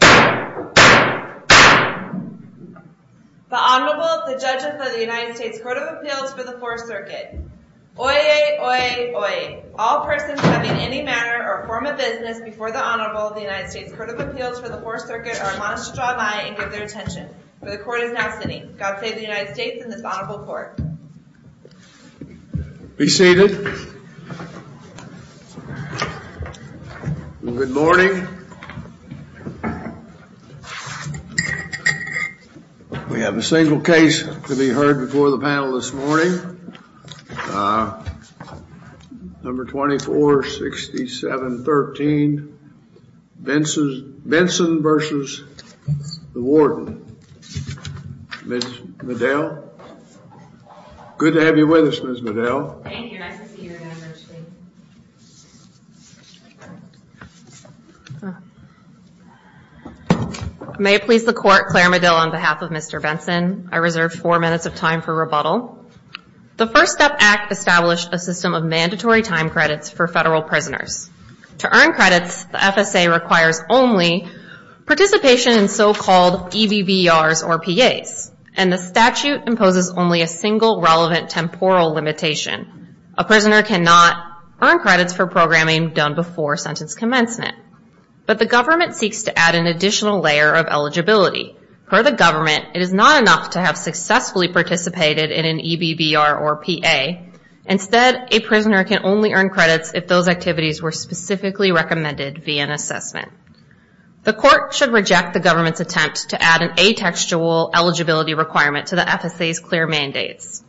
The Honorable, the Judge of the United States Court of Appeals for the Fourth Circuit. Oyez, oyez, oyez. All persons having any manner or form of business before the Honorable of the United States Court of Appeals for the Fourth Circuit are admonished to draw by and give their attention. For the Court is now sitting. God save the United States and this Honorable Court. Be seated. Good morning. We have a single case to be heard before the panel this morning. Number 246713. Benson versus the Warden. Ms. Medill. Good to have you with us, Ms. Medill. Thank you. Nice to see you again, Judge. May it please the Court, Claire Medill on behalf of Mr. Benson, I reserve four minutes of time for rebuttal. The First Step Act established a system of mandatory time credits for federal prisoners. To earn credits, the FSA requires only participation in so-called EBBRs or PAs. And the statute imposes only a single relevant temporal limitation. A prisoner cannot earn credits for programming done before sentence commencement. But the government seeks to add an additional layer of eligibility. Per the government, it is not enough to have successfully participated in an EBBR or PA. Instead, a prisoner can only earn credits if those activities were specifically recommended via an assessment. The Court should reject the government's attempt to add an atextual eligibility requirement to the FSA's clear mandates.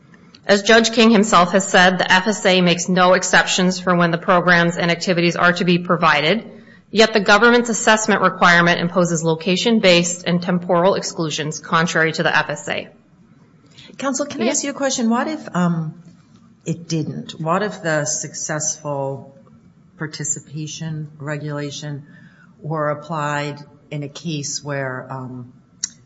As Judge King himself has said, the FSA makes no exceptions for when the programs and activities are to be provided. Yet the government's assessment requirement imposes location-based and temporal exclusions contrary to the FSA. Counsel, can I ask you a question? What if it didn't? What if the successful participation regulation were applied in a case where...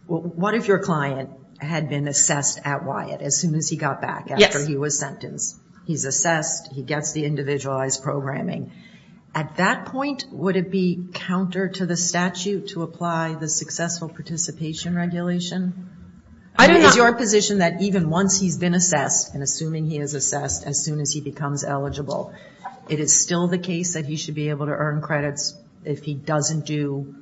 What if your client had been assessed at Wyatt as soon as he got back after he was sentenced? He's assessed, he gets the individualized programming. At that point, would it be counter to the statute to apply the successful participation regulation? Is your position that even once he's been assessed, and assuming he is assessed, as soon as he becomes eligible, it is still the case that he should be able to earn credits if he doesn't do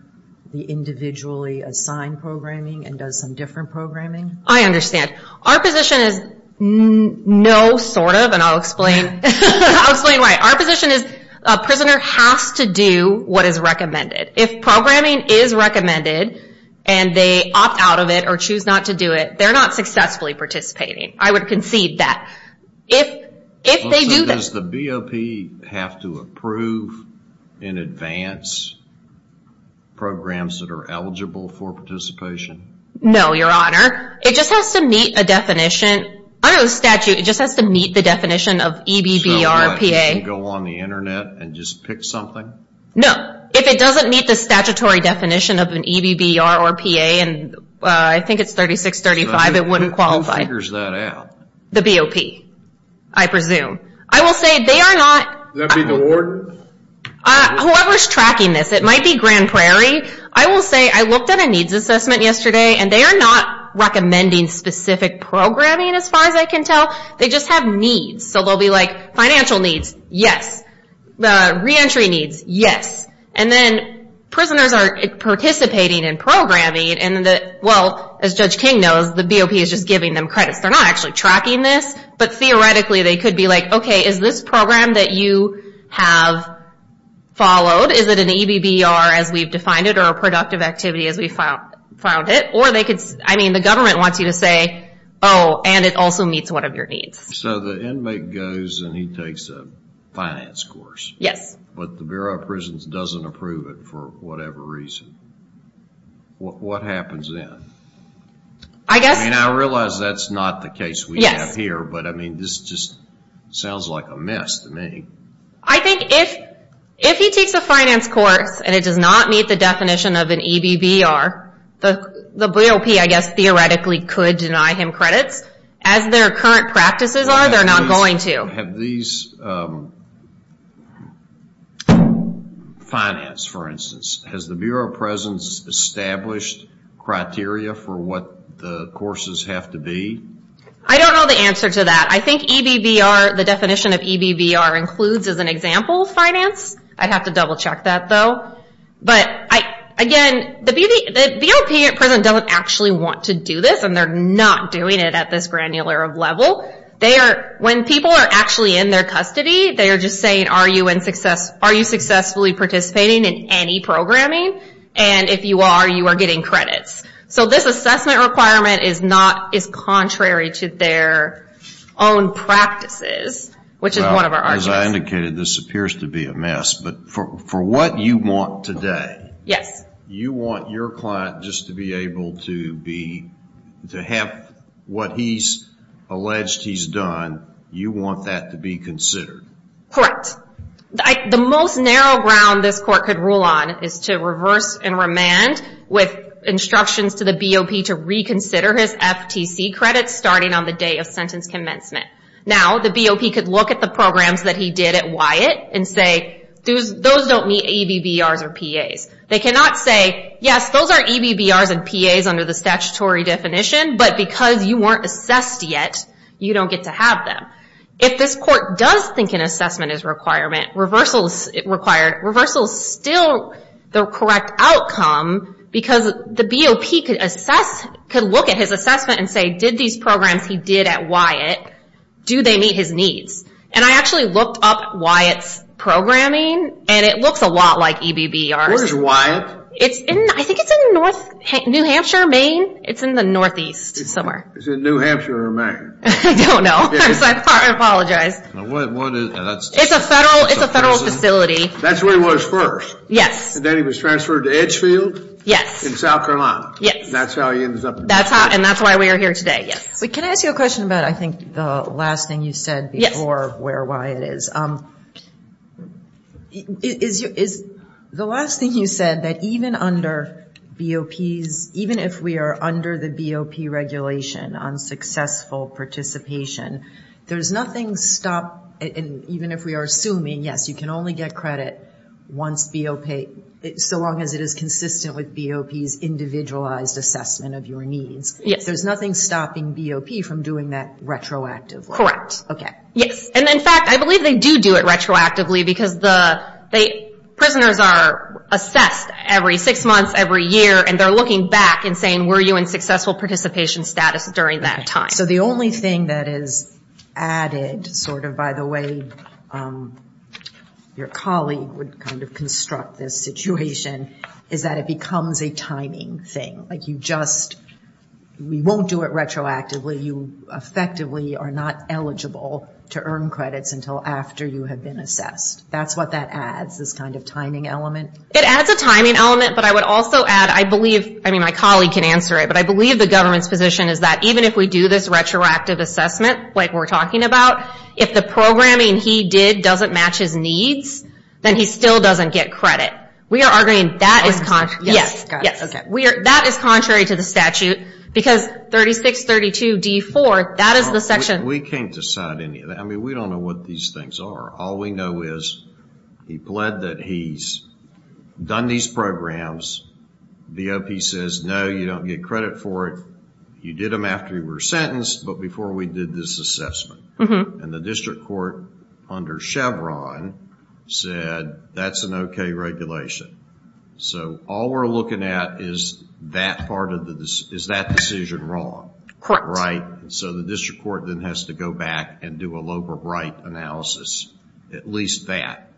the individually assigned programming and does some different programming? I understand. Our position is no sort of, and I'll explain why. Our position is a prisoner has to do what is recommended. If programming is recommended and they opt out of it or choose not to do it, they're not successfully participating. I would concede that. If they do that... Does the BOP have to approve in advance programs that are eligible for participation? No, Your Honor. It just has to meet a definition. Under the statute, it just has to meet the definition of EBBRPA. It doesn't go on the internet and just pick something? No. If it doesn't meet the statutory definition of an EBBR or PA, and I think it's 3635, it wouldn't qualify. Who figures that out? The BOP, I presume. I will say they are not... Would that be the warden? Whoever is tracking this. It might be Grand Prairie. I will say I looked at a needs assessment yesterday, and they are not recommending specific programming as far as I can tell. They just have needs. Financial needs, yes. Reentry needs, yes. Prisoners are participating in programming, and as Judge King knows, the BOP is just giving them credits. They're not actually tracking this, but theoretically they could be like, okay, is this program that you have followed, is it an EBBR as we've defined it or a productive activity as we found it? The government wants you to say, oh, and it also meets one of your needs. The inmate goes and he takes a finance course, but the Bureau of Prisons doesn't approve it for whatever reason. What happens then? I realize that's not the case we have here, but this just sounds like a mess to me. I think if he takes a finance course and it does not meet the definition of an EBBR, the BOP, I guess, theoretically could deny him credits. As their current practices are, they're not going to. Have these finance, for instance, has the Bureau of Prisons established criteria for what the courses have to be? I don't know the answer to that. I think EBBR, the definition of EBBR includes as an example finance. I'd have to double check that, though. Again, the BOP at present doesn't actually want to do this, and they're not doing it at this granular level. When people are actually in their custody, they are just saying, are you successfully participating in any programming? If you are, you are getting credits. This assessment requirement is contrary to their own practices, which is one of our arguments. As I indicated, this appears to be a mess, but for what you want today, you want your client just to be able to have what he's alleged he's done, you want that to be considered. Correct. The most narrow ground this court could rule on is to reverse and remand with instructions to the BOP to reconsider his FTC credits starting on the day of sentence commencement. Now, the BOP could look at the programs that he did at Wyatt and say, those don't meet EBBRs or PAs. They cannot say, yes, those are EBBRs and PAs under the statutory definition, but because you weren't assessed yet, you don't get to have them. If this court does think an assessment is required, reversal is still the correct outcome, because the BOP could look at his assessment and say, did these programs he did at Wyatt, do they meet his needs? I actually looked up Wyatt's programming, and it looks a lot like EBBRs. Where is Wyatt? I think it's in New Hampshire, Maine. It's in the northeast somewhere. Is it New Hampshire or Maine? I don't know. I apologize. It's a federal facility. That's where he was first? Yes. And then he was transferred to Edgefield? Yes. In South Carolina? Yes. And that's how he ends up in New Hampshire? And that's why we are here today, yes. Can I ask you a question about, I think, the last thing you said before where Wyatt is? The last thing you said, that even under BOPs, even if we are under the BOP regulation on successful participation, there's nothing stopping, even if we are assuming, yes, you can only get credit once BOP, so long as it is consistent with BOP's individualized assessment of your needs. Yes. There's nothing stopping BOP from doing that retroactively? Correct. Okay. Yes. And, in fact, I believe they do do it retroactively because the prisoners are assessed every six months, every year, and they're looking back and saying, were you in successful participation status during that time? So the only thing that is added, sort of by the way your colleague would kind of construct this situation, is that it becomes a timing thing. Like you just, we won't do it retroactively. You effectively are not eligible to earn credits until after you have been assessed. That's what that adds, this kind of timing element. It adds a timing element, but I would also add, I believe, I mean, my colleague can answer it, but I believe the government's position is that even if we do this retroactive assessment, like we're talking about, if the programming he did doesn't match his needs, then he still doesn't get credit. We are arguing that is. Yes. That is contrary to the statute because 3632D4, that is the section. We can't decide any of that. I mean, we don't know what these things are. All we know is he pled that he's done these programs. The O.P. says, no, you don't get credit for it. You did them after you were sentenced, but before we did this assessment. And the district court under Chevron said that's an okay regulation. So all we're looking at is that part of the, is that decision wrong? Correct. Right? So the district court then has to go back and do a Loeb or Bright analysis, at least that,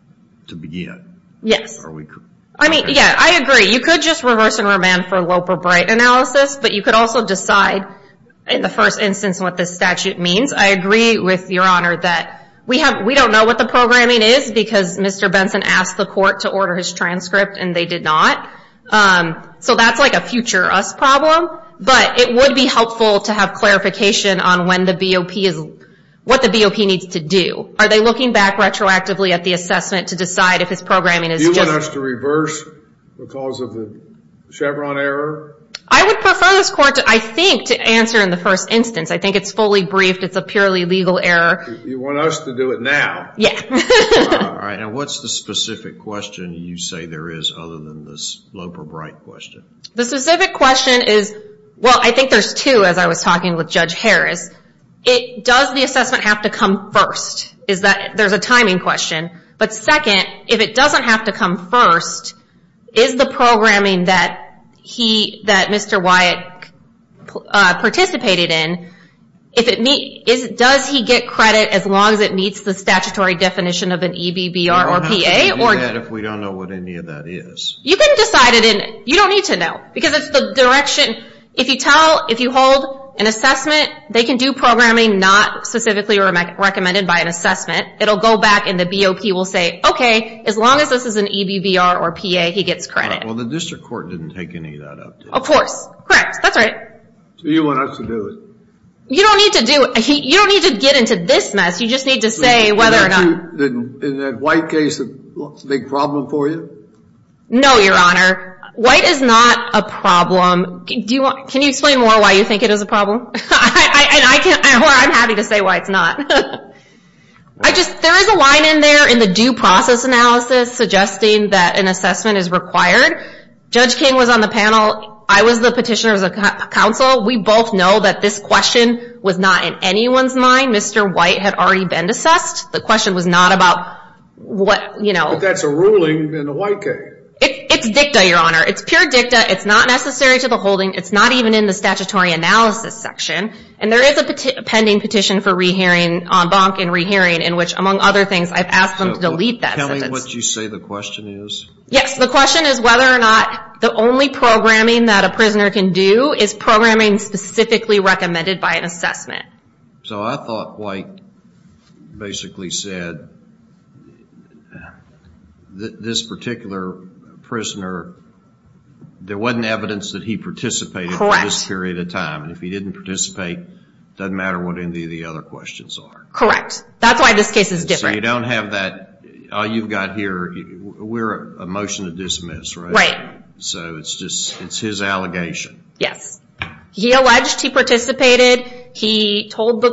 to begin. Yes. I mean, yeah, I agree. You could just reverse and remand for Loeb or Bright analysis, but you could also decide in the first instance what this statute means. I agree with Your Honor that we don't know what the programming is because Mr. Benson asked the court to order his transcript and they did not. So that's like a future us problem, but it would be helpful to have clarification on what the B.O.P. needs to do. Are they looking back retroactively at the assessment to decide if his programming is just Do you want us to reverse because of the Chevron error? I would prefer this court, I think, to answer in the first instance. I think it's fully briefed. It's a purely legal error. You want us to do it now? Yeah. All right. Now what's the specific question you say there is other than this Loeb or Bright question? The specific question is, well, I think there's two as I was talking with Judge Harris. Does the assessment have to come first? There's a timing question. But second, if it doesn't have to come first, is the programming that Mr. Wyatt participated in, does he get credit as long as it meets the statutory definition of an EBBR or PA? We don't have to do that if we don't know what any of that is. You can decide it. You don't need to know because it's the direction. If you tell, if you hold an assessment, they can do programming not specifically recommended by an assessment. It will go back and the B.O.P. will say, okay, as long as this is an EBBR or PA, he gets credit. Well, the district court didn't take any of that up, did they? Of course. Correct. That's right. Do you want us to do it? You don't need to do it. You don't need to get into this mess. You just need to say whether or not. Is that white case a big problem for you? No, Your Honor. White is not a problem. Can you explain more why you think it is a problem? I'm happy to say why it's not. There is a line in there in the due process analysis suggesting that an assessment is required. Judge King was on the panel. I was the petitioner as a counsel. We both know that this question was not in anyone's mind. Mr. White had already been assessed. The question was not about what, you know. But that's a ruling in the white case. It's dicta, Your Honor. It's pure dicta. It's not necessary to the holding. It's not even in the statutory analysis section. And there is a pending petition for re-hearing on bonk and re-hearing in which, among other things, I've asked them to delete that sentence. Tell me what you say the question is. Yes. The question is whether or not the only programming that a prisoner can do is programming specifically recommended by an assessment. So I thought White basically said this particular prisoner, there wasn't evidence that he participated for this period of time. Correct. And if he didn't participate, it doesn't matter what any of the other questions are. Correct. That's why this case is different. You don't have that. All you've got here, we're a motion to dismiss, right? So it's just, it's his allegation. Yes. He alleged he participated. He told the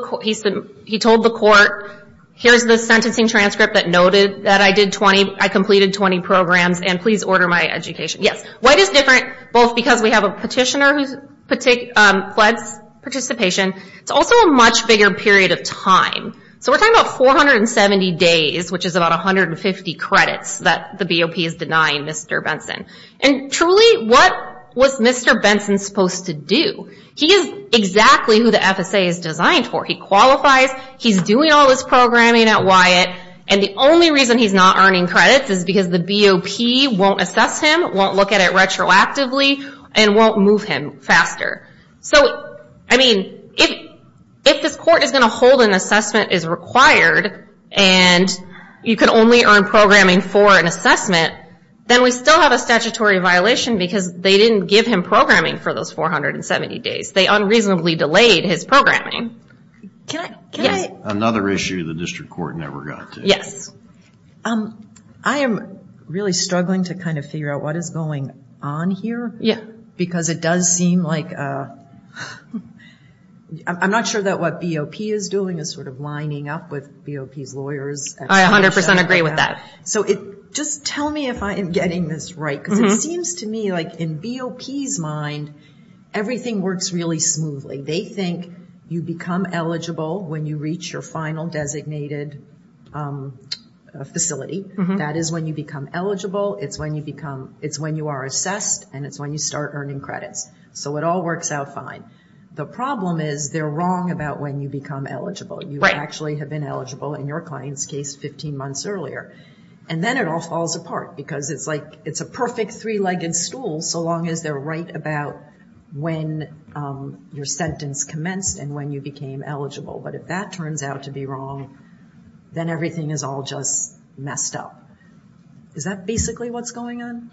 court, here's the sentencing transcript that noted that I did 20, I completed 20 programs, and please order my education. Yes. White is different both because we have a petitioner who pled participation. It's also a much bigger period of time. So we're talking about 470 days, which is about 150 credits that the BOP is denying Mr. Benson. And truly, what was Mr. Benson supposed to do? He is exactly who the FSA is designed for. He qualifies, he's doing all this programming at Wyatt, and the only reason he's not earning credits is because the BOP won't assess him, won't look at it retroactively, and won't move him faster. So, I mean, if this court is going to hold an assessment is required, and you can only earn programming for an assessment, then we still have a statutory violation because they didn't give him programming for those 470 days. They unreasonably delayed his programming. Another issue the district court never got to. I am really struggling to kind of figure out what is going on here. Yeah. Because it does seem like, I'm not sure that what BOP is doing is sort of lining up with BOP's lawyers. I 100% agree with that. So just tell me if I am getting this right. Because it seems to me like in BOP's mind, everything works really smoothly. They think you become eligible when you reach your final designated facility. That is when you become eligible. It's when you are assessed, and it's when you start earning credits. So it all works out fine. The problem is they're wrong about when you become eligible. You actually have been eligible in your client's case 15 months earlier. And then it all falls apart because it's like it's a perfect three-legged stool so long as they're right about when your sentence commenced and when you became eligible. But if that turns out to be wrong, then everything is all just messed up. Is that basically what's going on?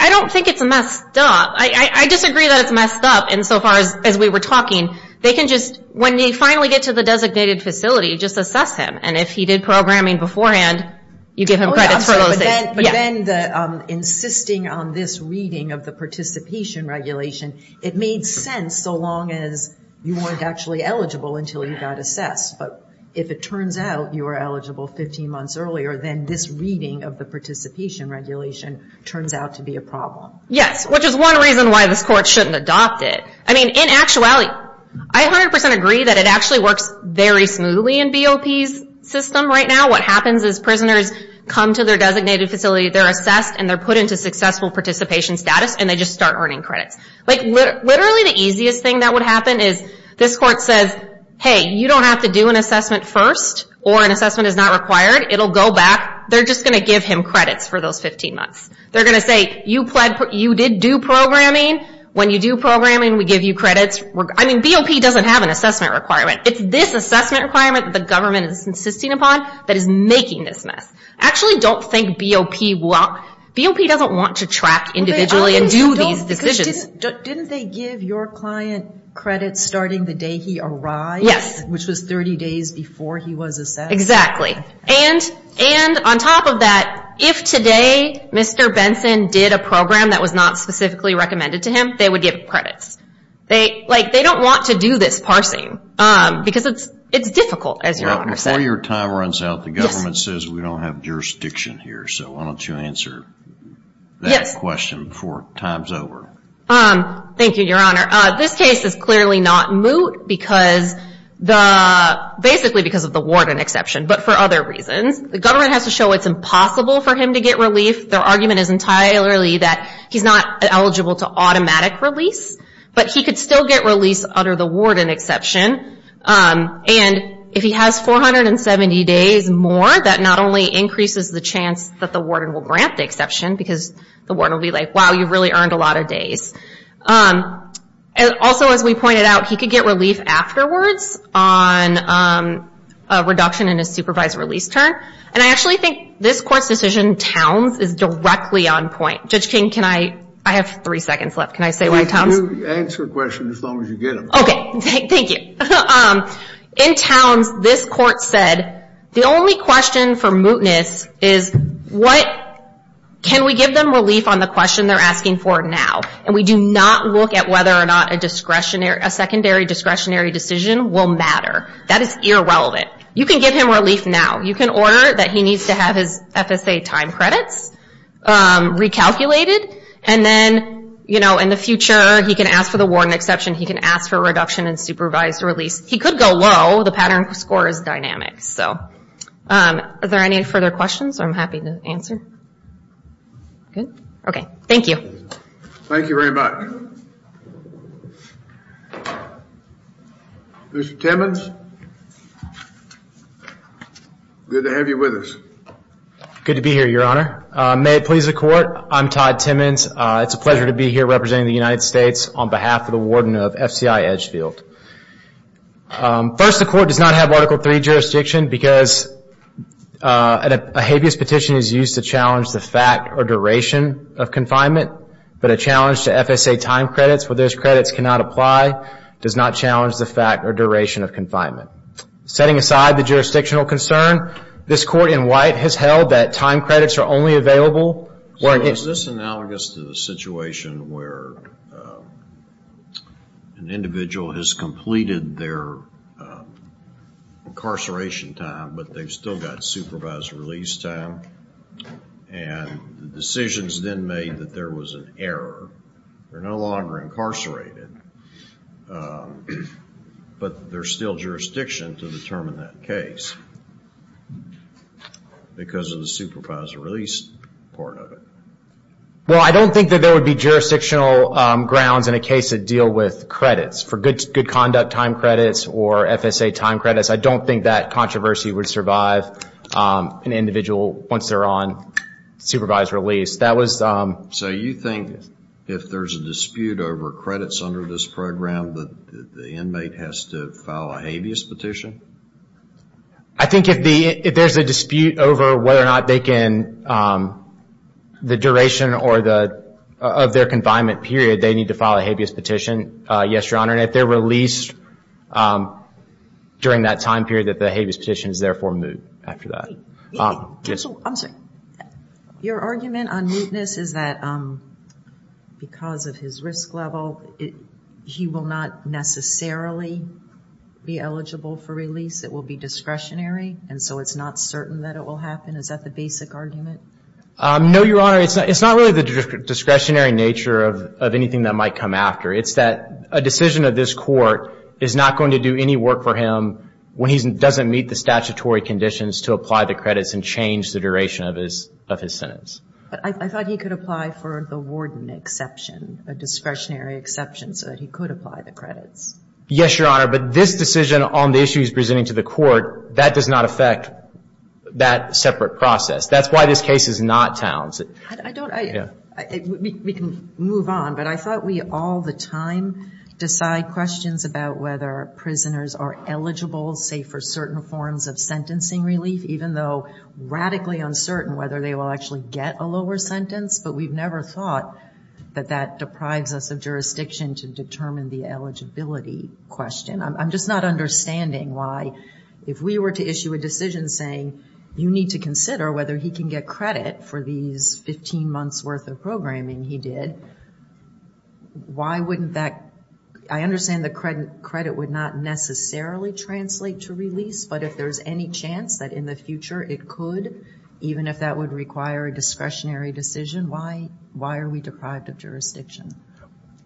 I don't think it's messed up. I disagree that it's messed up insofar as we were talking. They can just, when they finally get to the designated facility, just assess him. And if he did programming beforehand, you give him credits for those things. But then insisting on this reading of the participation regulation, it made sense so long as you weren't actually eligible until you got assessed. But if it turns out you were eligible 15 months earlier, then this reading of the participation regulation turns out to be a problem. Yes, which is one reason why this court shouldn't adopt it. In actuality, I 100% agree that it actually works very smoothly in BOP's system right now. What happens is prisoners come to their designated facility. They're assessed, and they're put into successful participation status, and they just start earning credits. Literally the easiest thing that would happen is this court says, hey, you don't have to do an assessment first, or an assessment is not required. It'll go back. They're just going to give him credits for those 15 months. They're going to say, you did do programming. When you do programming, we give you credits. I mean, BOP doesn't have an assessment requirement. It's this assessment requirement that the government is insisting upon that is making this mess. I actually don't think BOP wants to track individually and do these decisions. Didn't they give your client credits starting the day he arrived, which was 30 days before he was assessed? And on top of that, if today Mr. Benson did a program that was not specifically recommended to him, they would give him credits. They don't want to do this parsing because it's difficult, as Your Honor said. Before your time runs out, the government says we don't have jurisdiction here, so why don't you answer that question before time's over. Thank you, Your Honor. This case is clearly not moot, basically because of the warden exception, but for other reasons. The government has to show it's impossible for him to get relief. Their argument is entirely that he's not eligible to automatic release, but he could still get release under the warden exception. And if he has 470 days more, that not only increases the chance that the warden will grant the exception, because the warden will be like, wow, you've really earned a lot of days. Also, as we pointed out, he could get relief afterwards on a reduction in his supervised release term. And I actually think this Court's decision, Towns, is directly on point. Judge King, I have three seconds left. Can I say why Towns? You can answer questions as long as you get them. Okay, thank you. In Towns, this Court said the only question for mootness is, can we give them relief on the question they're asking for now? And we do not look at whether or not a secondary discretionary decision will matter. That is irrelevant. You can give him relief now. You can order that he needs to have his FSA time credits recalculated, and then in the future, he can ask for the warden exception, he can ask for a reduction in supervised release. He could go low. The pattern score is dynamic. Are there any further questions? I'm happy to answer. Okay, thank you. Thank you very much. Mr. Timmons? Good to have you with us. Good to be here, Your Honor. May it please the Court, I'm Todd Timmons. It's a pleasure to be here representing the United States on behalf of the warden of FCI Edgefield. First, the Court does not have Article III jurisdiction because a habeas petition is used to challenge the fact or duration of confinement, but a challenge to FSA time credits where those credits cannot apply does not challenge the fact or duration of confinement. Setting aside the jurisdictional concern, this Court in White has held that time credits are only available Is this analogous to the situation where an individual has completed their incarceration time but they've still got supervised release time and the decision is then made that there was an error, they're no longer incarcerated, but there's still jurisdiction to determine that case because of the supervised release part of it. Well, I don't think that there would be jurisdictional grounds in a case that deal with credits. For good conduct time credits or FSA time credits, I don't think that controversy would survive an individual once they're on supervised release. So you think if there's a dispute over credits under this program, the inmate has to file a habeas petition? I think if there's a dispute over whether or not they can, the duration of their confinement period, they need to file a habeas petition, yes, Your Honor, and if they're released during that time period, that the habeas petition is therefore moot after that. Your argument on mootness is that because of his risk level, he will not necessarily be eligible for release, it will be discretionary, and so it's not certain that it will happen? Is that the basic argument? No, Your Honor, it's not really the discretionary nature of anything that might come after. It's that a decision of this court is not going to do any work for him when he doesn't meet the statutory conditions to apply the credits and change the duration of his sentence. But I thought he could apply for the warden exception, a discretionary exception, so that he could apply the credits. Yes, Your Honor, but this decision on the issues presented to the court, that does not affect that separate process. That's why this case is not Towns. I don't, I, we can move on, but I thought we all the time decide questions about whether prisoners are eligible, say, for certain forms of sentencing relief, even though radically uncertain whether they will actually get a lower sentence, but we've never thought that that deprives us of jurisdiction to determine the eligibility question. I'm just not understanding why, if we were to issue a decision saying, you need to consider whether he can get credit for these 15 months worth of programming he did, why wouldn't that, I understand that credit would not necessarily translate to release, but if there's any chance that in the future it could, even if that would require a discretionary decision, why are we deprived of jurisdiction?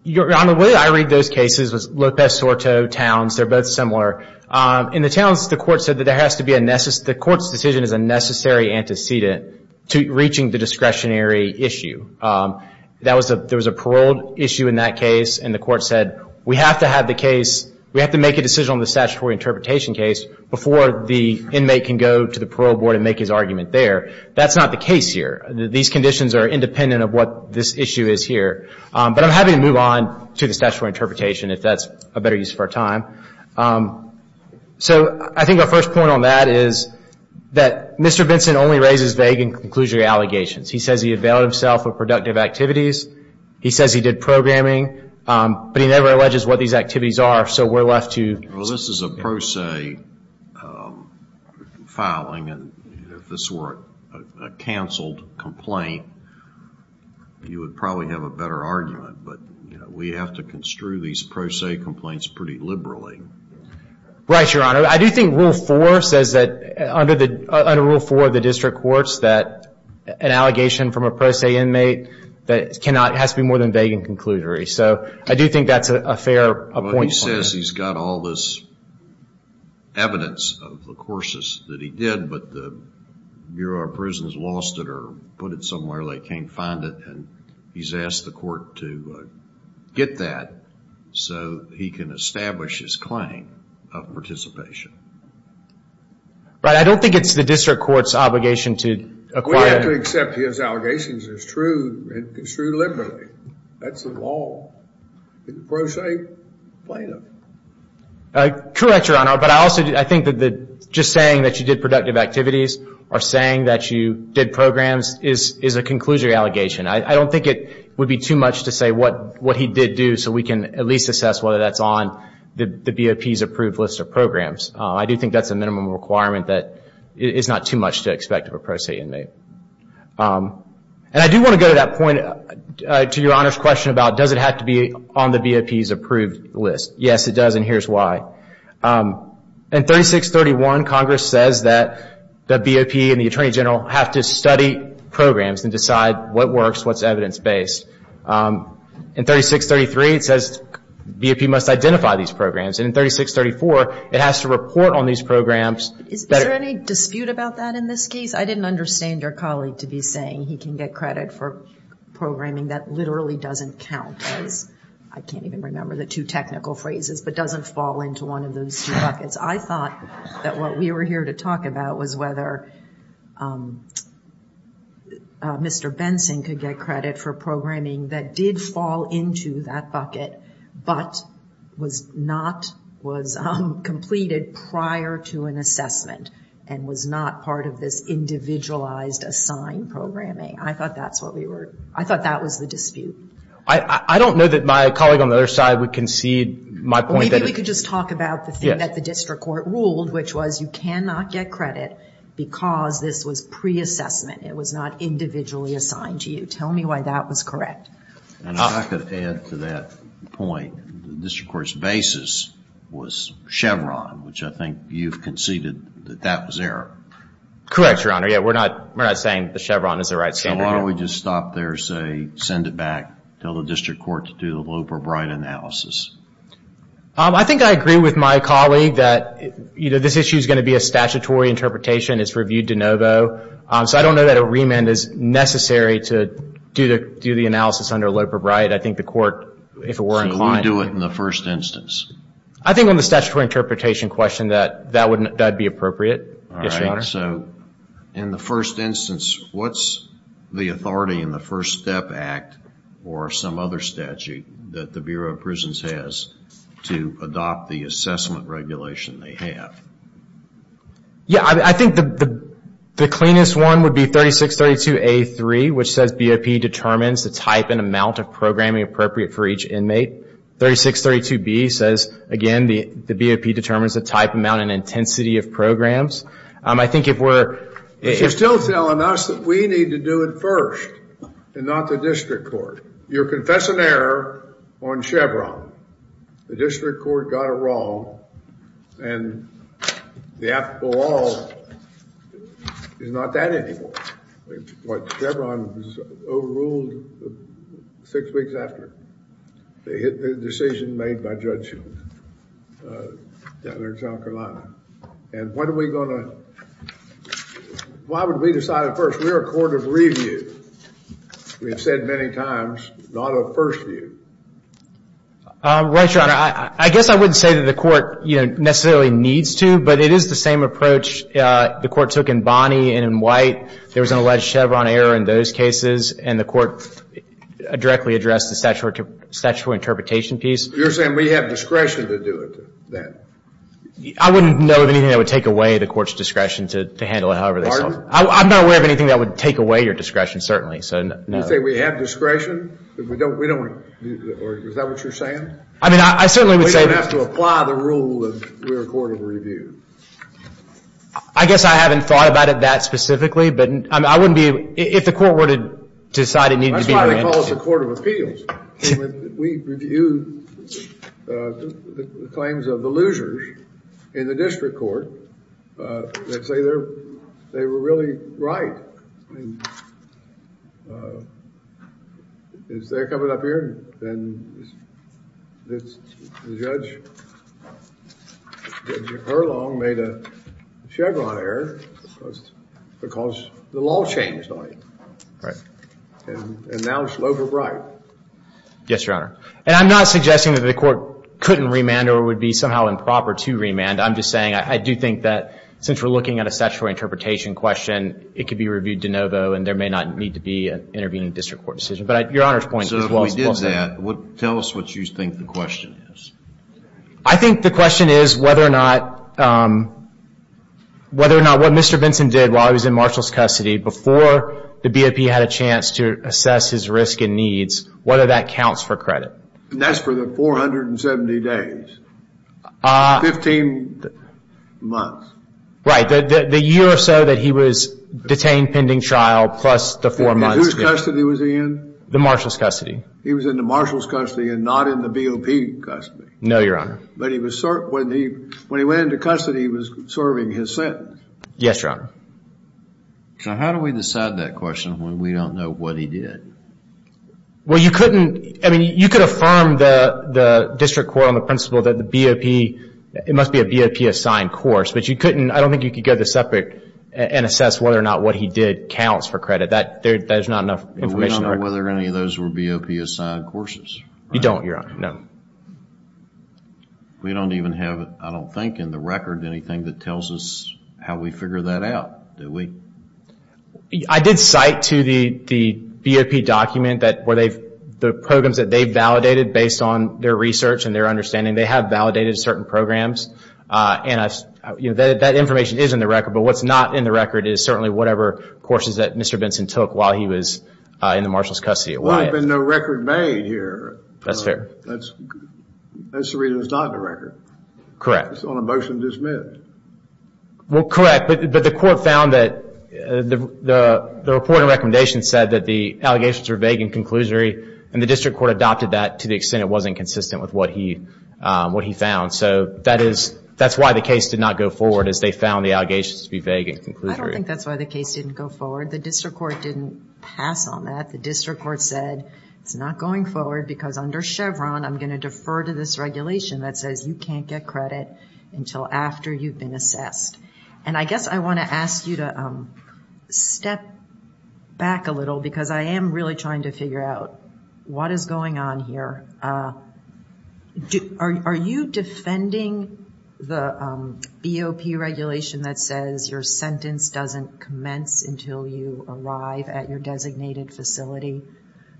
Your Honor, the way I read those cases, Lopez-Sorto, Towns, they're both similar. In the Towns, the court said that there has to be a, the court's decision is a necessary antecedent to reaching the discretionary issue. There was a paroled issue in that case, and the court said, we have to have the case, we have to make a decision on the statutory interpretation case before the That's not the case here. These conditions are independent of what this issue is here. But I'm happy to move on to the statutory interpretation, if that's a better use of our time. So I think our first point on that is that Mr. Vinson only raises vague and conclusory allegations. He says he availed himself of productive activities. He says he did programming, but he never alleges what these activities are, so we're left to... Well, this is a pro se filing, and if this were a canceled complaint, you would probably have a better argument. But we have to construe these pro se complaints pretty liberally. Right, Your Honor. I do think Rule 4 says that, under Rule 4 of the district courts, that an allegation from a pro se inmate that cannot, has to be more than vague and conclusory. So I do think that's a fair point. Well, he says he's got all this evidence of the courses that he did, but the Bureau of Prisons lost it or put it somewhere they can't find it, and he's asked the court to get that so he can establish his claim of participation. But I don't think it's the district court's obligation to acquire... We have to accept his allegations. It's true liberally. That's the law. Pro se plaintiff. Correct, Your Honor. But I also think that just saying that you did productive activities or saying that you did programs is a conclusory allegation. I don't think it would be too much to say what he did do so we can at least assess whether that's on the BOP's approved list of programs. I do think that's a minimum requirement that it's not too much to expect of a pro se inmate. And I do want to go to that point, to Your Honor's question about does it have to be on the BOP's approved list. Yes, it does, and here's why. In 3631, Congress says that the BOP and the Attorney General have to study programs and decide what works, what's evidence-based. In 3633, it says the BOP must identify these programs, and in 3634, it has to report on these programs. Is there any dispute about that in this case? I didn't understand your colleague to be saying he can get credit for programming. That literally doesn't count as, I can't even remember the two technical phrases, but doesn't fall into one of those two buckets. I thought that what we were here to talk about was whether Mr. Benson could get credit for programming that did fall into that bucket but was completed prior to an assessment and was not part of this individualized assigned programming. I thought that was the dispute. I don't know that my colleague on the other side would concede my point. Maybe we could just talk about the thing that the district court ruled, which was you cannot get credit because this was pre-assessment. It was not individually assigned to you. Tell me why that was correct. And if I could add to that point, the district court's basis was Chevron, which I think you've conceded that that was error. Correct, Your Honor. We're not saying the Chevron is the right standard. Why don't we just stop there, say, send it back, tell the district court to do the Loeb or Bright analysis. I think I agree with my colleague that this issue is going to be a statutory interpretation. It's reviewed de novo. So I don't know that a remand is necessary to do the analysis under Loeb or Bright. I think the court, if it were inclined... So we do it in the first instance. I think on the statutory interpretation question that that would be appropriate. Yes, Your Honor. So in the first instance, what's the authority in the First Step Act or some other statute that the Bureau of Prisons has to adopt the assessment regulation they have? Yeah, I think the cleanest one would be 3632A3, which says BOP determines the type and amount of programming appropriate for each inmate. 3632B says, again, the BOP determines the type, amount, and intensity of programs. I think if we're... But you're still telling us that we need to do it first and not the district court. You're confessing error on Chevron. The district court got it wrong, and the law is not that anymore. What, Chevron was overruled six weeks after the decision made by Judge John Carolina. And what are we going to... Why would we decide it first? We're a court of review. We have said many times, not a first view. Right, Your Honor. I guess I wouldn't say that the court necessarily needs to, but it is the same approach the court took in Bonney and in White. There was an alleged Chevron error in those cases, and the court directly addressed the statutory interpretation piece. You're saying we have discretion to do it then? I wouldn't know of anything that would take away the court's discretion to handle it however they saw it. I'm not aware of anything that would take away your discretion, certainly. So, no. You say we have discretion, but we don't... Is that what you're saying? I mean, I certainly would say... We don't have to apply the rule of we're a court of review. I guess I haven't thought about it that specifically, but I wouldn't be... If the court were to decide it needed to be... That's why they call us a court of appeals. We review the claims of the losers in the district court that say they were really right. Well, I mean, is there coming up here? The judge, Judge Erlong, made a Chevron error because the law changed on it. Right. And now it's low but right. Yes, Your Honor. And I'm not suggesting that the court couldn't remand or would be somehow improper to remand. I'm just saying I do think that since we're looking at a statutory interpretation question, it could be reviewed de novo and there may not need to be an intervening district court decision. But Your Honor's point is... So if we did that, tell us what you think the question is. I think the question is whether or not what Mr. Vinson did while he was in Marshall's custody before the BOP had a chance to assess his risk and needs, whether that counts for credit. And that's for the 470 days. 15 months. Right. The year or so that he was detained pending trial plus the 4 months. And whose custody was he in? The Marshall's custody. He was in the Marshall's custody and not in the BOP custody. No, Your Honor. But when he went into custody, he was serving his sentence. Yes, Your Honor. So how do we decide that question when we don't know what he did? Well, you couldn't, I mean, you could affirm the district court on the principle that the BOP, it must be a BOP assigned course. But you couldn't, I don't think you could go to the separate and assess whether or not what he did counts for credit. That is not enough information. We don't know whether any of those were BOP assigned courses. You don't, Your Honor. No. We don't even have, I don't think in the record, anything that tells us how we figure that out, do we? I did cite to the BOP document that the programs that they validated based on their research and their understanding, they have validated certain programs. And that information is in the record. But what's not in the record is certainly whatever courses that Mr. Benson took while he was in the Marshall's custody. Well, there's been no record made here. That's fair. That's the reason it's not in the record. Correct. It's on a motion to dismiss. Well, correct. But the court found that the report and recommendation said that the allegations were vague and the district court adopted that to the extent it wasn't consistent with what he found. So that's why the case did not go forward is they found the allegations to be vague and conclusory. I don't think that's why the case didn't go forward. The district court didn't pass on that. The district court said it's not going forward because under Chevron, I'm going to defer to this regulation that says you can't get credit until after you've been assessed. And I guess I want to ask you to step back a little because I am really trying to figure out what is going on here. Are you defending the EOP regulation that says your sentence doesn't commence until you arrive at your designated facility?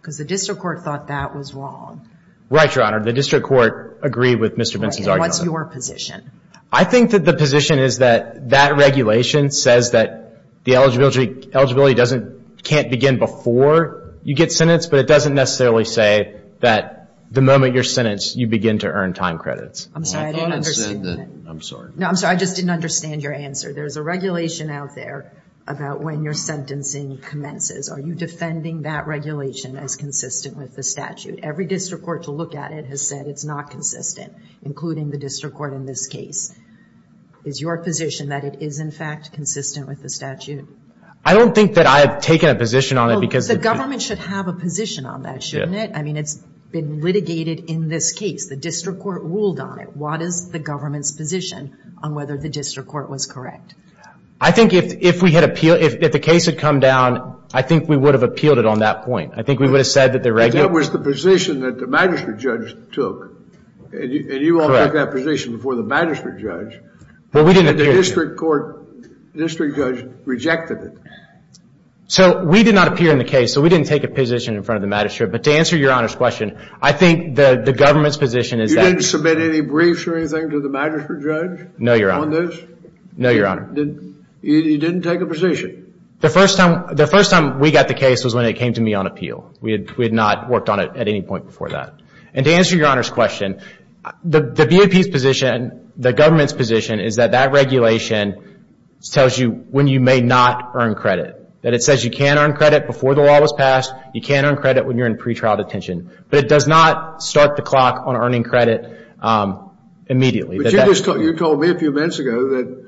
Because the district court thought that was wrong. Right, Your Honor. The district court agreed with Mr. Benson's argument. And what's your position? I think that the position is that that regulation says that the eligibility can't begin before you get sentenced, but it doesn't necessarily say that the moment you're sentenced, you begin to earn time credits. I'm sorry. I didn't understand that. I'm sorry. No, I'm sorry. I just didn't understand your answer. There's a regulation out there about when your sentencing commences. Are you defending that regulation as consistent with the statute? Every district court to look at it has said it's not consistent, including the district court in this case. Is your position that it is, in fact, consistent with the statute? I don't think that I have taken a position on it because the – Well, the government should have a position on that, shouldn't it? Yeah. I mean, it's been litigated in this case. The district court ruled on it. What is the government's position on whether the district court was correct? I think if we had appealed – if the case had come down, I think we would have appealed it on that point. I think we would have said that the – But that was the position that the magistrate judge took. Correct. And you all took that position before the magistrate judge. Well, we didn't – And the district court – district judge rejected it. So we did not appear in the case, so we didn't take a position in front of the magistrate. But to answer Your Honor's question, I think the government's position is that – You didn't submit any briefs or anything to the magistrate judge on this? No, Your Honor. You didn't take a position? The first time we got the case was when it came to me on appeal. We had not worked on it at any point before that. And to answer Your Honor's question, the BAP's position, the government's position, is that that regulation tells you when you may not earn credit. That it says you can earn credit before the law was passed. You can earn credit when you're in pretrial detention. But it does not start the clock on earning credit immediately. But you told me a few minutes ago that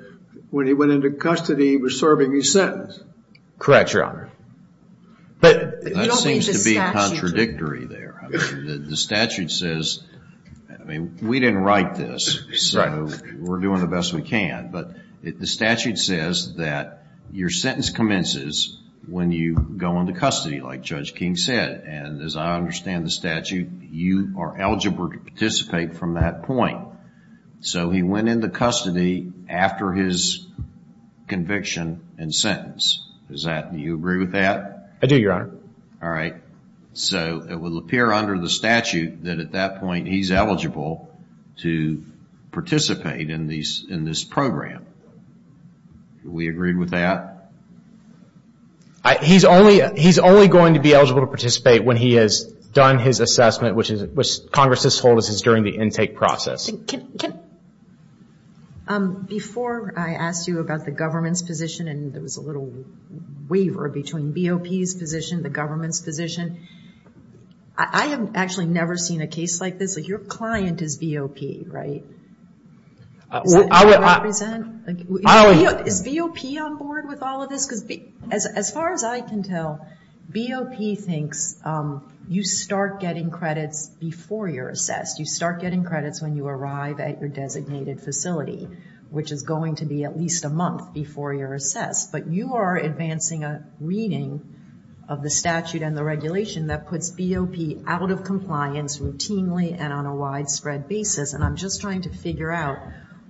when he went into custody, he was serving his sentence. Correct, Your Honor. But – That seems to be contradictory there. The statute says – I mean, we didn't write this, so we're doing the best we can. But the statute says that your sentence commences when you go into custody, like Judge King said. And as I understand the statute, you are eligible to participate from that point. So he went into custody after his conviction and sentence. Do you agree with that? I do, Your Honor. All right. So it will appear under the statute that at that point he's eligible to participate in this program. Do we agree with that? He's only going to be eligible to participate when he has done his assessment, which Congress has told us is during the intake process. Before I asked you about the government's position, and there was a little waver between BOP's position and the government's position, I have actually never seen a case like this. Like, your client is BOP, right? Is that how you represent? Is BOP on board with all of this? As far as I can tell, BOP thinks you start getting credits before you're assessed. You start getting credits when you arrive at your designated facility, which is going to be at least a month before you're assessed. But you are advancing a reading of the statute and the regulation that puts BOP out of compliance routinely and on a widespread basis. And I'm just trying to figure out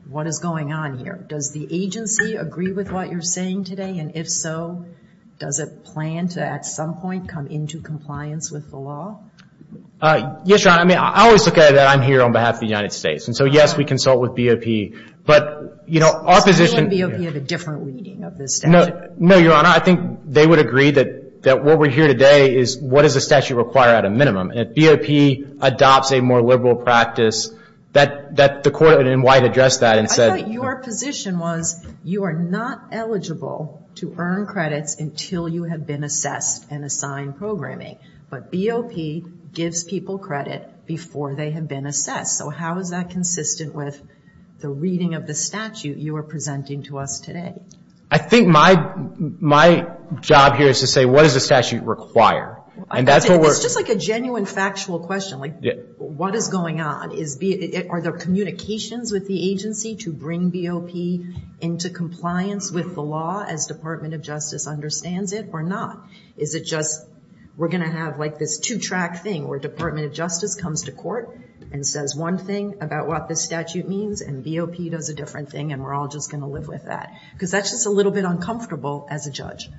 what is going on here. Does the agency agree with what you're saying today? And if so, does it plan to, at some point, come into compliance with the law? Yes, Your Honor. I mean, I always look at it that I'm here on behalf of the United States. And so, yes, we consult with BOP. But, you know, our position – Does BOP have a different reading of this statute? No, Your Honor. I think they would agree that what we're here today is what does the statute require at a minimum. And if BOP adopts a more liberal practice, that the court in white addressed that and said – I thought your position was you are not eligible to earn credits until you have been assessed and assigned programming. But BOP gives people credit before they have been assessed. So how is that consistent with the reading of the statute you are presenting to us today? I think my job here is to say what does the statute require. It's just like a genuine factual question, like what is going on? Are there communications with the agency to bring BOP into compliance with the law as Department of Justice understands it or not? Is it just we're going to have like this two-track thing where Department of Justice comes to court and says one thing about what this statute means and BOP does a different thing and we're all just going to live with that? Because that's just a little bit uncomfortable as a judge.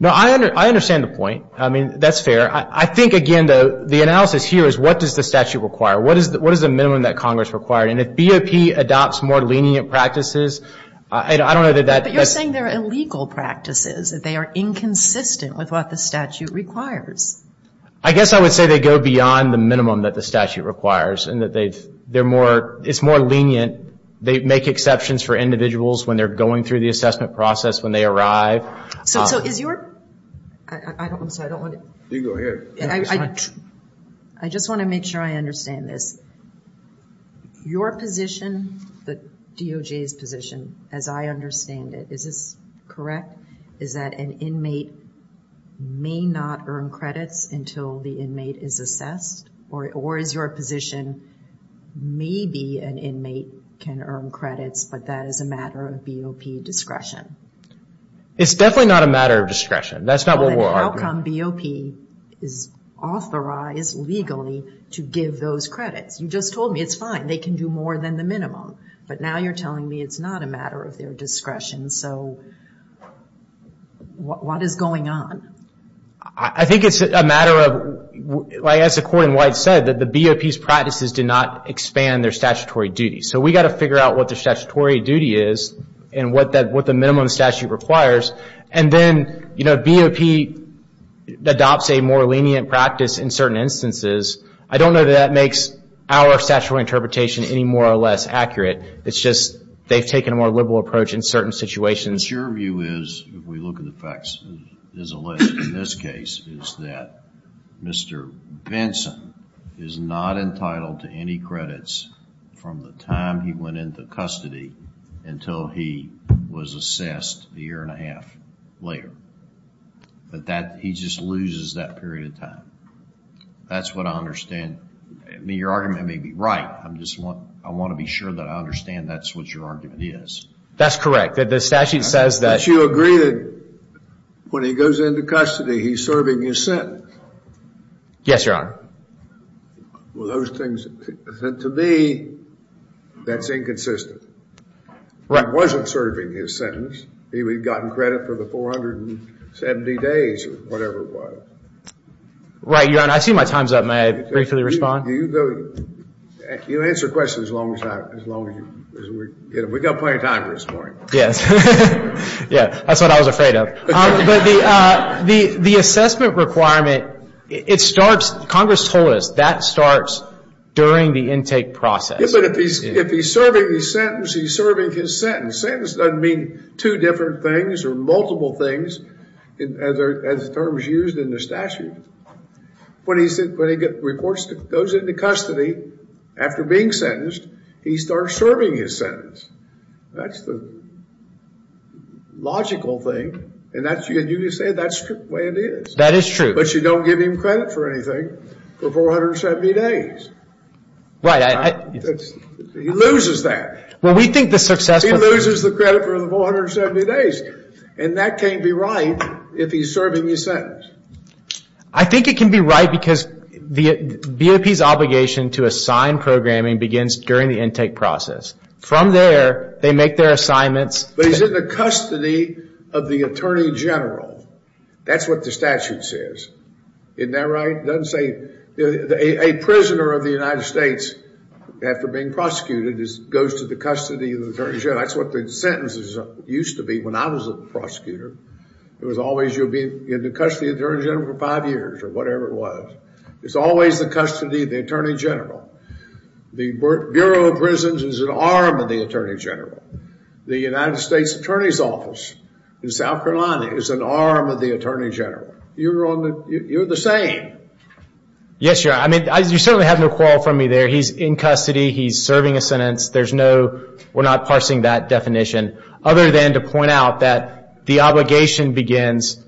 No, I understand the point. I mean, that's fair. I think, again, the analysis here is what does the statute require? What is the minimum that Congress requires? And if BOP adopts more lenient practices, I don't know that that... But you're saying they're illegal practices, that they are inconsistent with what the statute requires. I guess I would say they go beyond the minimum that the statute requires and that it's more lenient. They make exceptions for individuals when they're going through the assessment process, when they arrive. So is your... I'm sorry, I don't want to... You can go ahead. I just want to make sure I understand this. Your position, the DOJ's position, as I understand it, is this correct, is that an inmate may not earn credits until the inmate is assessed? Or is your position maybe an inmate can earn credits, but that is a matter of BOP discretion? It's definitely not a matter of discretion. That's not what we're arguing. How come BOP is authorized legally to give those credits? You just told me it's fine. They can do more than the minimum. But now you're telling me it's not a matter of their discretion. So what is going on? I think it's a matter of, as the Court in White said, that the BOP's practices do not expand their statutory duties. So we've got to figure out what the statutory duty is and what the minimum statute requires. And then, you know, BOP adopts a more lenient practice in certain instances. I don't know that that makes our statutory interpretation any more or less accurate. It's just they've taken a more liberal approach in certain situations. But your view is, if we look at the facts, there's a list in this case, is that Mr. Benson is not entitled to any credits from the time he went into custody until he was assessed a year and a half later. But he just loses that period of time. That's what I understand. I mean, your argument may be right. I just want to be sure that I understand that's what your argument is. That's correct. The statute says that. But you agree that when he goes into custody, he's serving his sentence. Yes, Your Honor. Well, those things, to me, that's inconsistent. He wasn't serving his sentence. He had gotten credit for the 470 days or whatever it was. Right, Your Honor. I see my time's up. May I briefly respond? You answer questions as long as we've got plenty of time to respond. Yes. Yeah, that's what I was afraid of. The assessment requirement, it starts, Congress told us, that starts during the intake process. Yeah, but if he's serving his sentence, he's serving his sentence. Sentence doesn't mean two different things or multiple things, as the term is used in the statute. When he goes into custody after being sentenced, he starts serving his sentence. That's the logical thing. And you can say that's the way it is. That is true. But you don't give him credit for anything for 470 days. Right. He loses that. Well, we think the successful. He loses the credit for the 470 days. And that can't be right if he's serving his sentence. I think it can be right because the BOP's obligation to assign programming begins during the intake process. From there, they make their assignments. But he's in the custody of the Attorney General. That's what the statute says. Isn't that right? It doesn't say a prisoner of the United States, after being prosecuted, goes to the custody of the Attorney General. That's what the sentence used to be when I was a prosecutor. It was always you'll be in the custody of the Attorney General for five years or whatever it was. It's always the custody of the Attorney General. The Bureau of Prisons is an arm of the Attorney General. The United States Attorney's Office in South Carolina is an arm of the Attorney General. You're the same. Yes, Your Honor. You certainly have no quarrel from me there. He's in custody. He's serving a sentence. We're not parsing that definition other than to point out that the obligation begins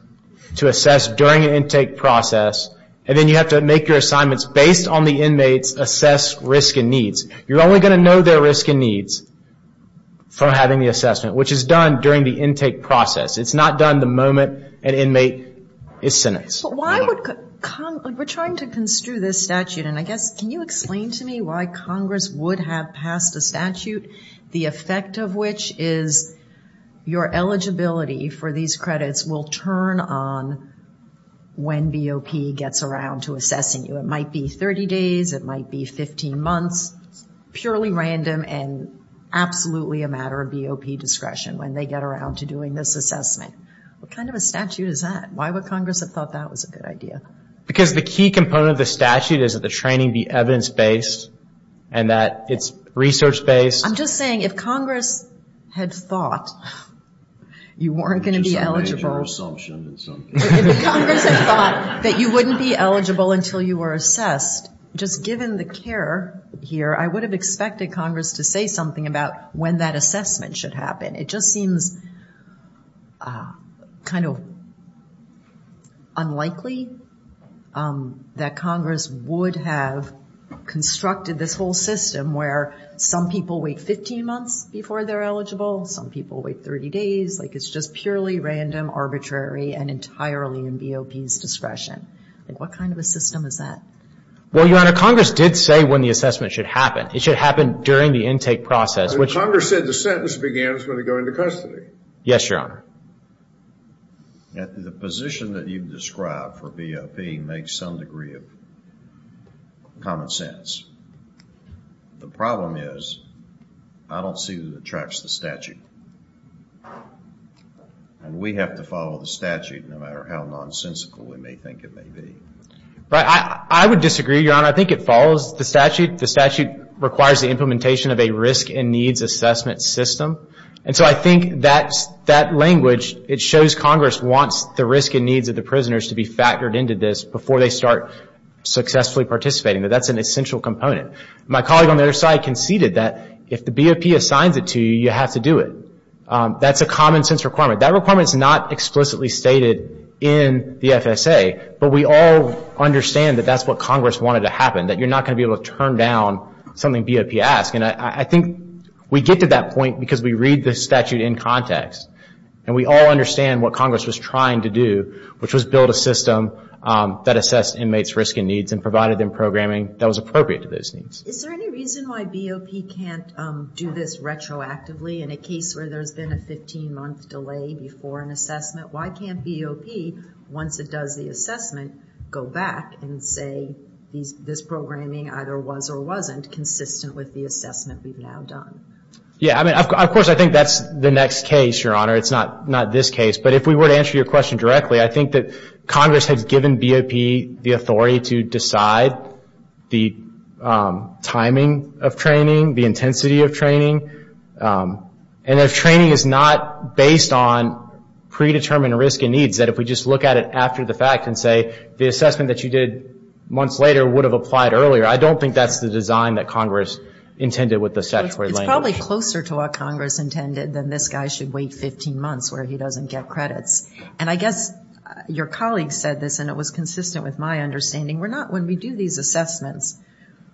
to assess during an intake process. And then you have to make your assignments based on the inmate's assessed risk and needs. You're only going to know their risk and needs from having the assessment, which is done during the intake process. It's not done the moment an inmate is sentenced. We're trying to construe this statute, and I guess can you explain to me why Congress would have passed a statute, the effect of which is your eligibility for these credits will turn on when BOP gets around to assessing you. It might be 30 days. It might be 15 months. Purely random and absolutely a matter of BOP discretion when they get around to doing this assessment. What kind of a statute is that? Why would Congress have thought that was a good idea? Because the key component of the statute is that the training be evidence-based and that it's research-based. I'm just saying if Congress had thought you weren't going to be eligible. If Congress had thought that you wouldn't be eligible until you were assessed, just given the care here, I would have expected Congress to say something about when that assessment should happen. It just seems kind of unlikely that Congress would have constructed this whole system where some people wait 15 months before they're eligible, some people wait 30 days. It's just purely random, arbitrary, and entirely in BOP's discretion. What kind of a system is that? Well, Your Honor, Congress did say when the assessment should happen. It should happen during the intake process. Congress said the sentence begins when they go into custody. Yes, Your Honor. The position that you've described for BOP makes some degree of common sense. The problem is I don't see who attracts the statute. And we have to follow the statute no matter how nonsensical we may think it may be. I would disagree, Your Honor. I think it follows the statute. The statute requires the implementation of a risk and needs assessment system. And so I think that language, it shows Congress wants the risk and needs of the prisoners to be factored into this before they start successfully participating. That that's an essential component. My colleague on the other side conceded that if the BOP assigns it to you, you have to do it. That's a common sense requirement. That requirement is not explicitly stated in the FSA, but we all understand that that's what Congress wanted to happen, that you're not going to be able to turn down something BOP asked. And I think we get to that point because we read the statute in context. And we all understand what Congress was trying to do, which was build a system that assessed inmates' risk and needs and provided them programming that was appropriate to those needs. Is there any reason why BOP can't do this retroactively in a case where there's been a 15-month delay before an assessment? Why can't BOP, once it does the assessment, go back and say this programming either was or wasn't consistent with the assessment we've now done? Yeah, I mean, of course I think that's the next case, Your Honor. It's not this case. But if we were to answer your question directly, I think that Congress has given BOP the authority to decide the timing of training, the intensity of training. And if training is not based on predetermined risk and needs, that if we just look at it after the fact and say the assessment that you did months later would have applied earlier, I don't think that's the design that Congress intended with the statutory language. It's probably closer to what Congress intended than this guy should wait 15 months where he doesn't get credits. And I guess your colleague said this, and it was consistent with my understanding. When we do these assessments,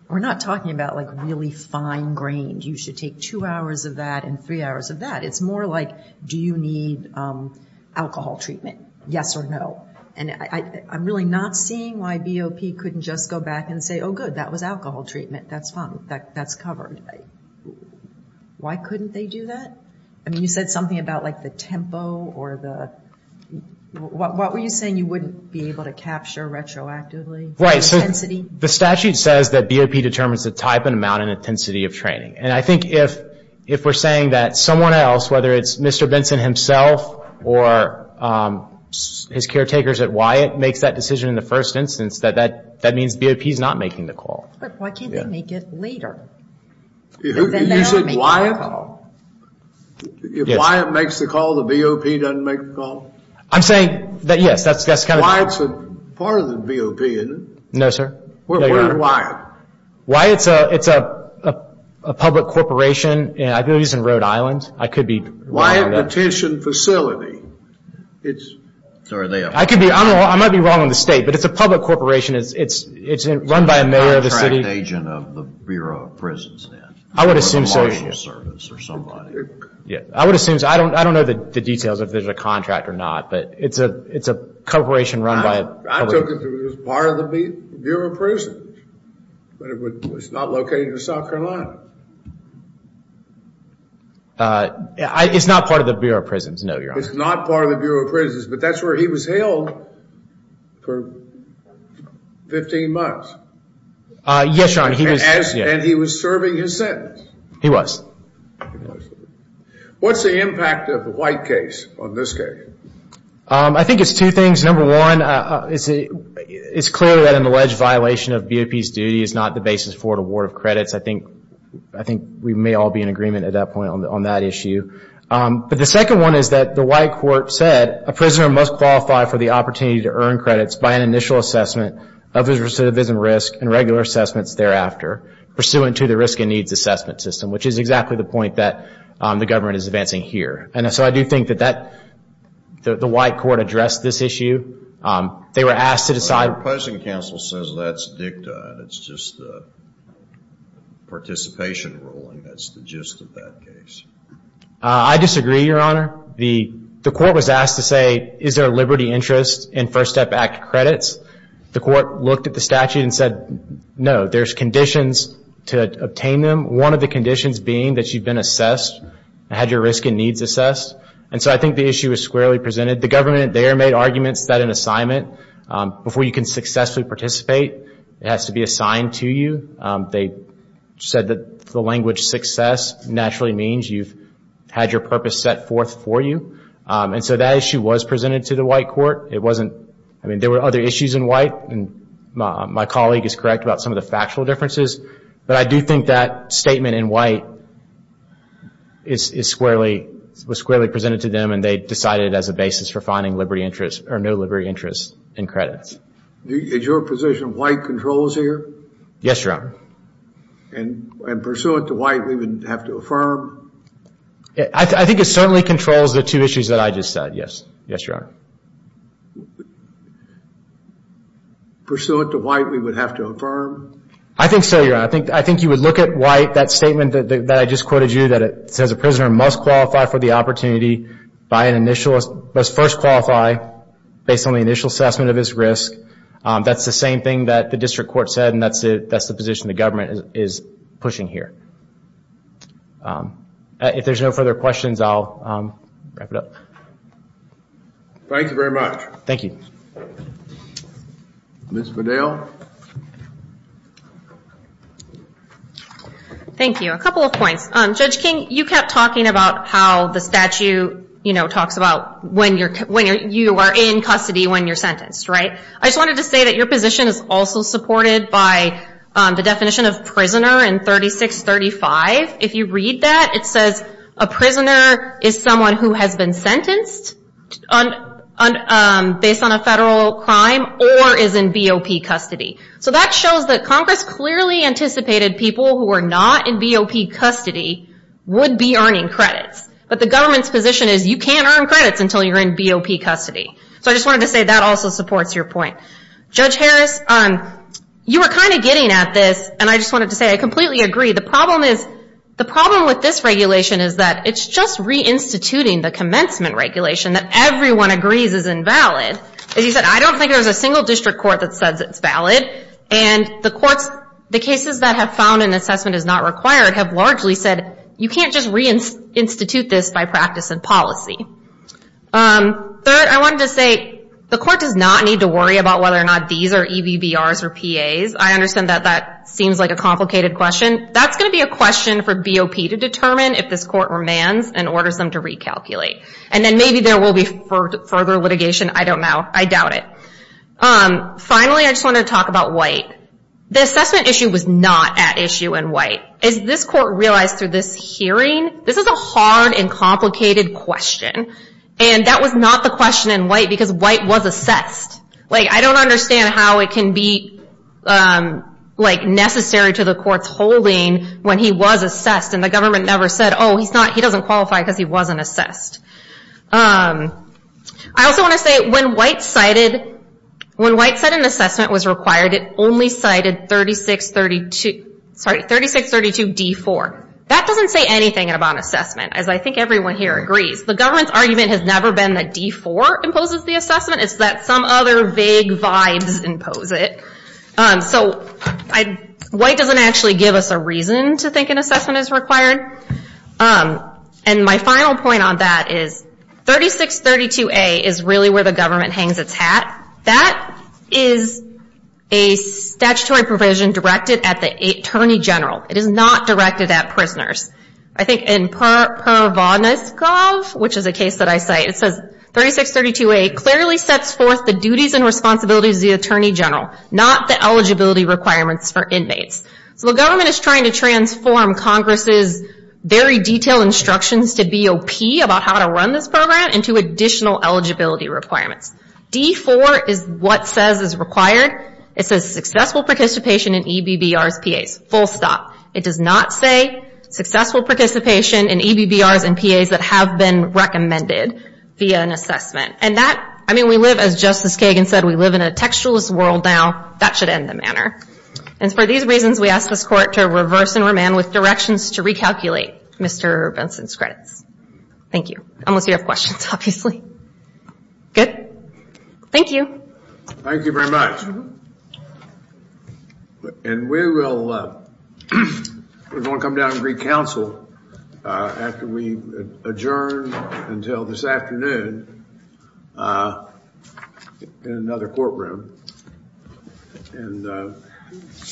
we're not talking about like really fine-grained, you should take two hours of that and three hours of that. It's more like do you need alcohol treatment, yes or no. And I'm really not seeing why BOP couldn't just go back and say, oh, good, that was alcohol treatment, that's fine, that's covered. Why couldn't they do that? I mean, you said something about like the tempo or the – what were you saying you wouldn't be able to capture retroactively? Right, so the statute says that BOP determines the type and amount and intensity of training. And I think if we're saying that someone else, whether it's Mr. Benson himself or his caretakers at Wyatt makes that decision in the first instance, that means BOP is not making the call. But why can't they make it later? You said Wyatt? If Wyatt makes the call, the BOP doesn't make the call? I'm saying that, yes, that's kind of – Wyatt's a part of the BOP, isn't it? No, sir. Where is Wyatt? Wyatt's a public corporation. I believe he's in Rhode Island. Wyatt Petition Facility. I might be wrong on the state, but it's a public corporation. It's run by a mayor of the city. He's an agent of the Bureau of Prisons then. I would assume so. Or the Marshals Service or somebody. I would assume so. I don't know the details of if there's a contract or not, but it's a corporation run by a – I took it as part of the Bureau of Prisons, but it's not located in South Carolina. It's not part of the Bureau of Prisons, no, you're honest. It's not part of the Bureau of Prisons, but that's where he was held for 15 months. Yes, Your Honor. And he was serving his sentence? He was. What's the impact of the Wyatt case on this case? I think it's two things. Number one, it's clear that an alleged violation of BOP's duty is not the basis for an award of credits. I think we may all be in agreement at that point on that issue. But the second one is that the White Court said a prisoner must qualify for the opportunity to earn credits by an initial assessment of his recidivism risk and regular assessments thereafter, pursuant to the risk and needs assessment system, which is exactly the point that the government is advancing here. And so I do think that the White Court addressed this issue. They were asked to decide. The opposing counsel says that's dicta, it's just a participation ruling, that's the gist of that case. I disagree, Your Honor. The court was asked to say, is there a liberty interest in First Step Act credits? The court looked at the statute and said, no, there's conditions to obtain them, one of the conditions being that you've been assessed and had your risk and needs assessed. And so I think the issue is squarely presented. The government there made arguments that an assignment, before you can successfully participate, has to be assigned to you. They said that the language success naturally means you've had your purpose set forth for you. And so that issue was presented to the White Court. I mean, there were other issues in White, and my colleague is correct about some of the factual differences. But I do think that statement in White was squarely presented to them, and they decided as a basis for finding no liberty interest in credits. Is your position White controls here? Yes, Your Honor. And pursuant to White, we would have to affirm? I think it certainly controls the two issues that I just said, yes. Yes, Your Honor. Pursuant to White, we would have to affirm? I think so, Your Honor. I think you would look at White, that statement that I just quoted you, that it says a prisoner must qualify for the opportunity by an initial, must first qualify based on the initial assessment of his risk. That's the same thing that the district court said, and that's the position the government is pushing here. If there's no further questions, I'll wrap it up. Thank you very much. Thank you. Ms. Bedell? Thank you. A couple of points. Judge King, you kept talking about how the statute, you know, talks about when you are in custody when you're sentenced, right? I just wanted to say that your position is also supported by the definition of prisoner in 3635. If you read that, it says a prisoner is someone who has been sentenced based on a federal crime or is in BOP custody. So that shows that Congress clearly anticipated people who were not in BOP custody would be earning credits. But the government's position is you can't earn credits until you're in BOP custody. So I just wanted to say that also supports your point. Judge Harris, you were kind of getting at this, and I just wanted to say I completely agree. The problem with this regulation is that it's just reinstituting the commencement regulation that everyone agrees is invalid. As you said, I don't think there's a single district court that says it's valid. And the courts, the cases that have found an assessment is not required, have largely said you can't just reinstitute this by practice and policy. Third, I wanted to say the court does not need to worry about whether or not these are EBBRs or PAs. I understand that that seems like a complicated question. That's going to be a question for BOP to determine if this court remands and orders them to recalculate. And then maybe there will be further litigation. I don't know. I doubt it. Finally, I just wanted to talk about White. The assessment issue was not at issue in White. As this court realized through this hearing, this is a hard and complicated question. And that was not the question in White because White was assessed. I don't understand how it can be necessary to the court's holding when he was assessed and the government never said, oh, he doesn't qualify because he wasn't assessed. I also want to say when White said an assessment was required, it only cited 3632D4. That doesn't say anything about assessment, as I think everyone here agrees. The government's argument has never been that D4 imposes the assessment. It's that some other vague vibes impose it. So White doesn't actually give us a reason to think an assessment is required. And my final point on that is 3632A is really where the government hangs its hat. That is a statutory provision directed at the Attorney General. It is not directed at prisoners. I think in Pervoniskov, which is a case that I cite, it says 3632A clearly sets forth the duties and responsibilities of the eligibility requirements for inmates. So the government is trying to transform Congress's very detailed instructions to BOP about how to run this program into additional eligibility requirements. D4 is what says is required. It says successful participation in EBBRs, PAs. Full stop. It does not say successful participation in EBBRs and PAs that have been recommended via an assessment. And that, I mean, we live, as Justice Kagan said, we live in a textualist world now. That should end the matter. And for these reasons, we ask this Court to reverse and remand with directions to recalculate Mr. Benson's credits. Thank you. Unless you have questions, obviously. Good? Thank you. Thank you very much. And we will come down and re-counsel after we adjourn until this afternoon in another courtroom. And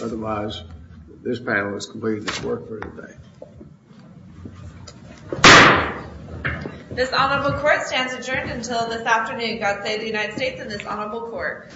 otherwise, this panel is completed. It's work for the day. This Honorable Court stands adjourned until this afternoon. God save the United States and this Honorable Court.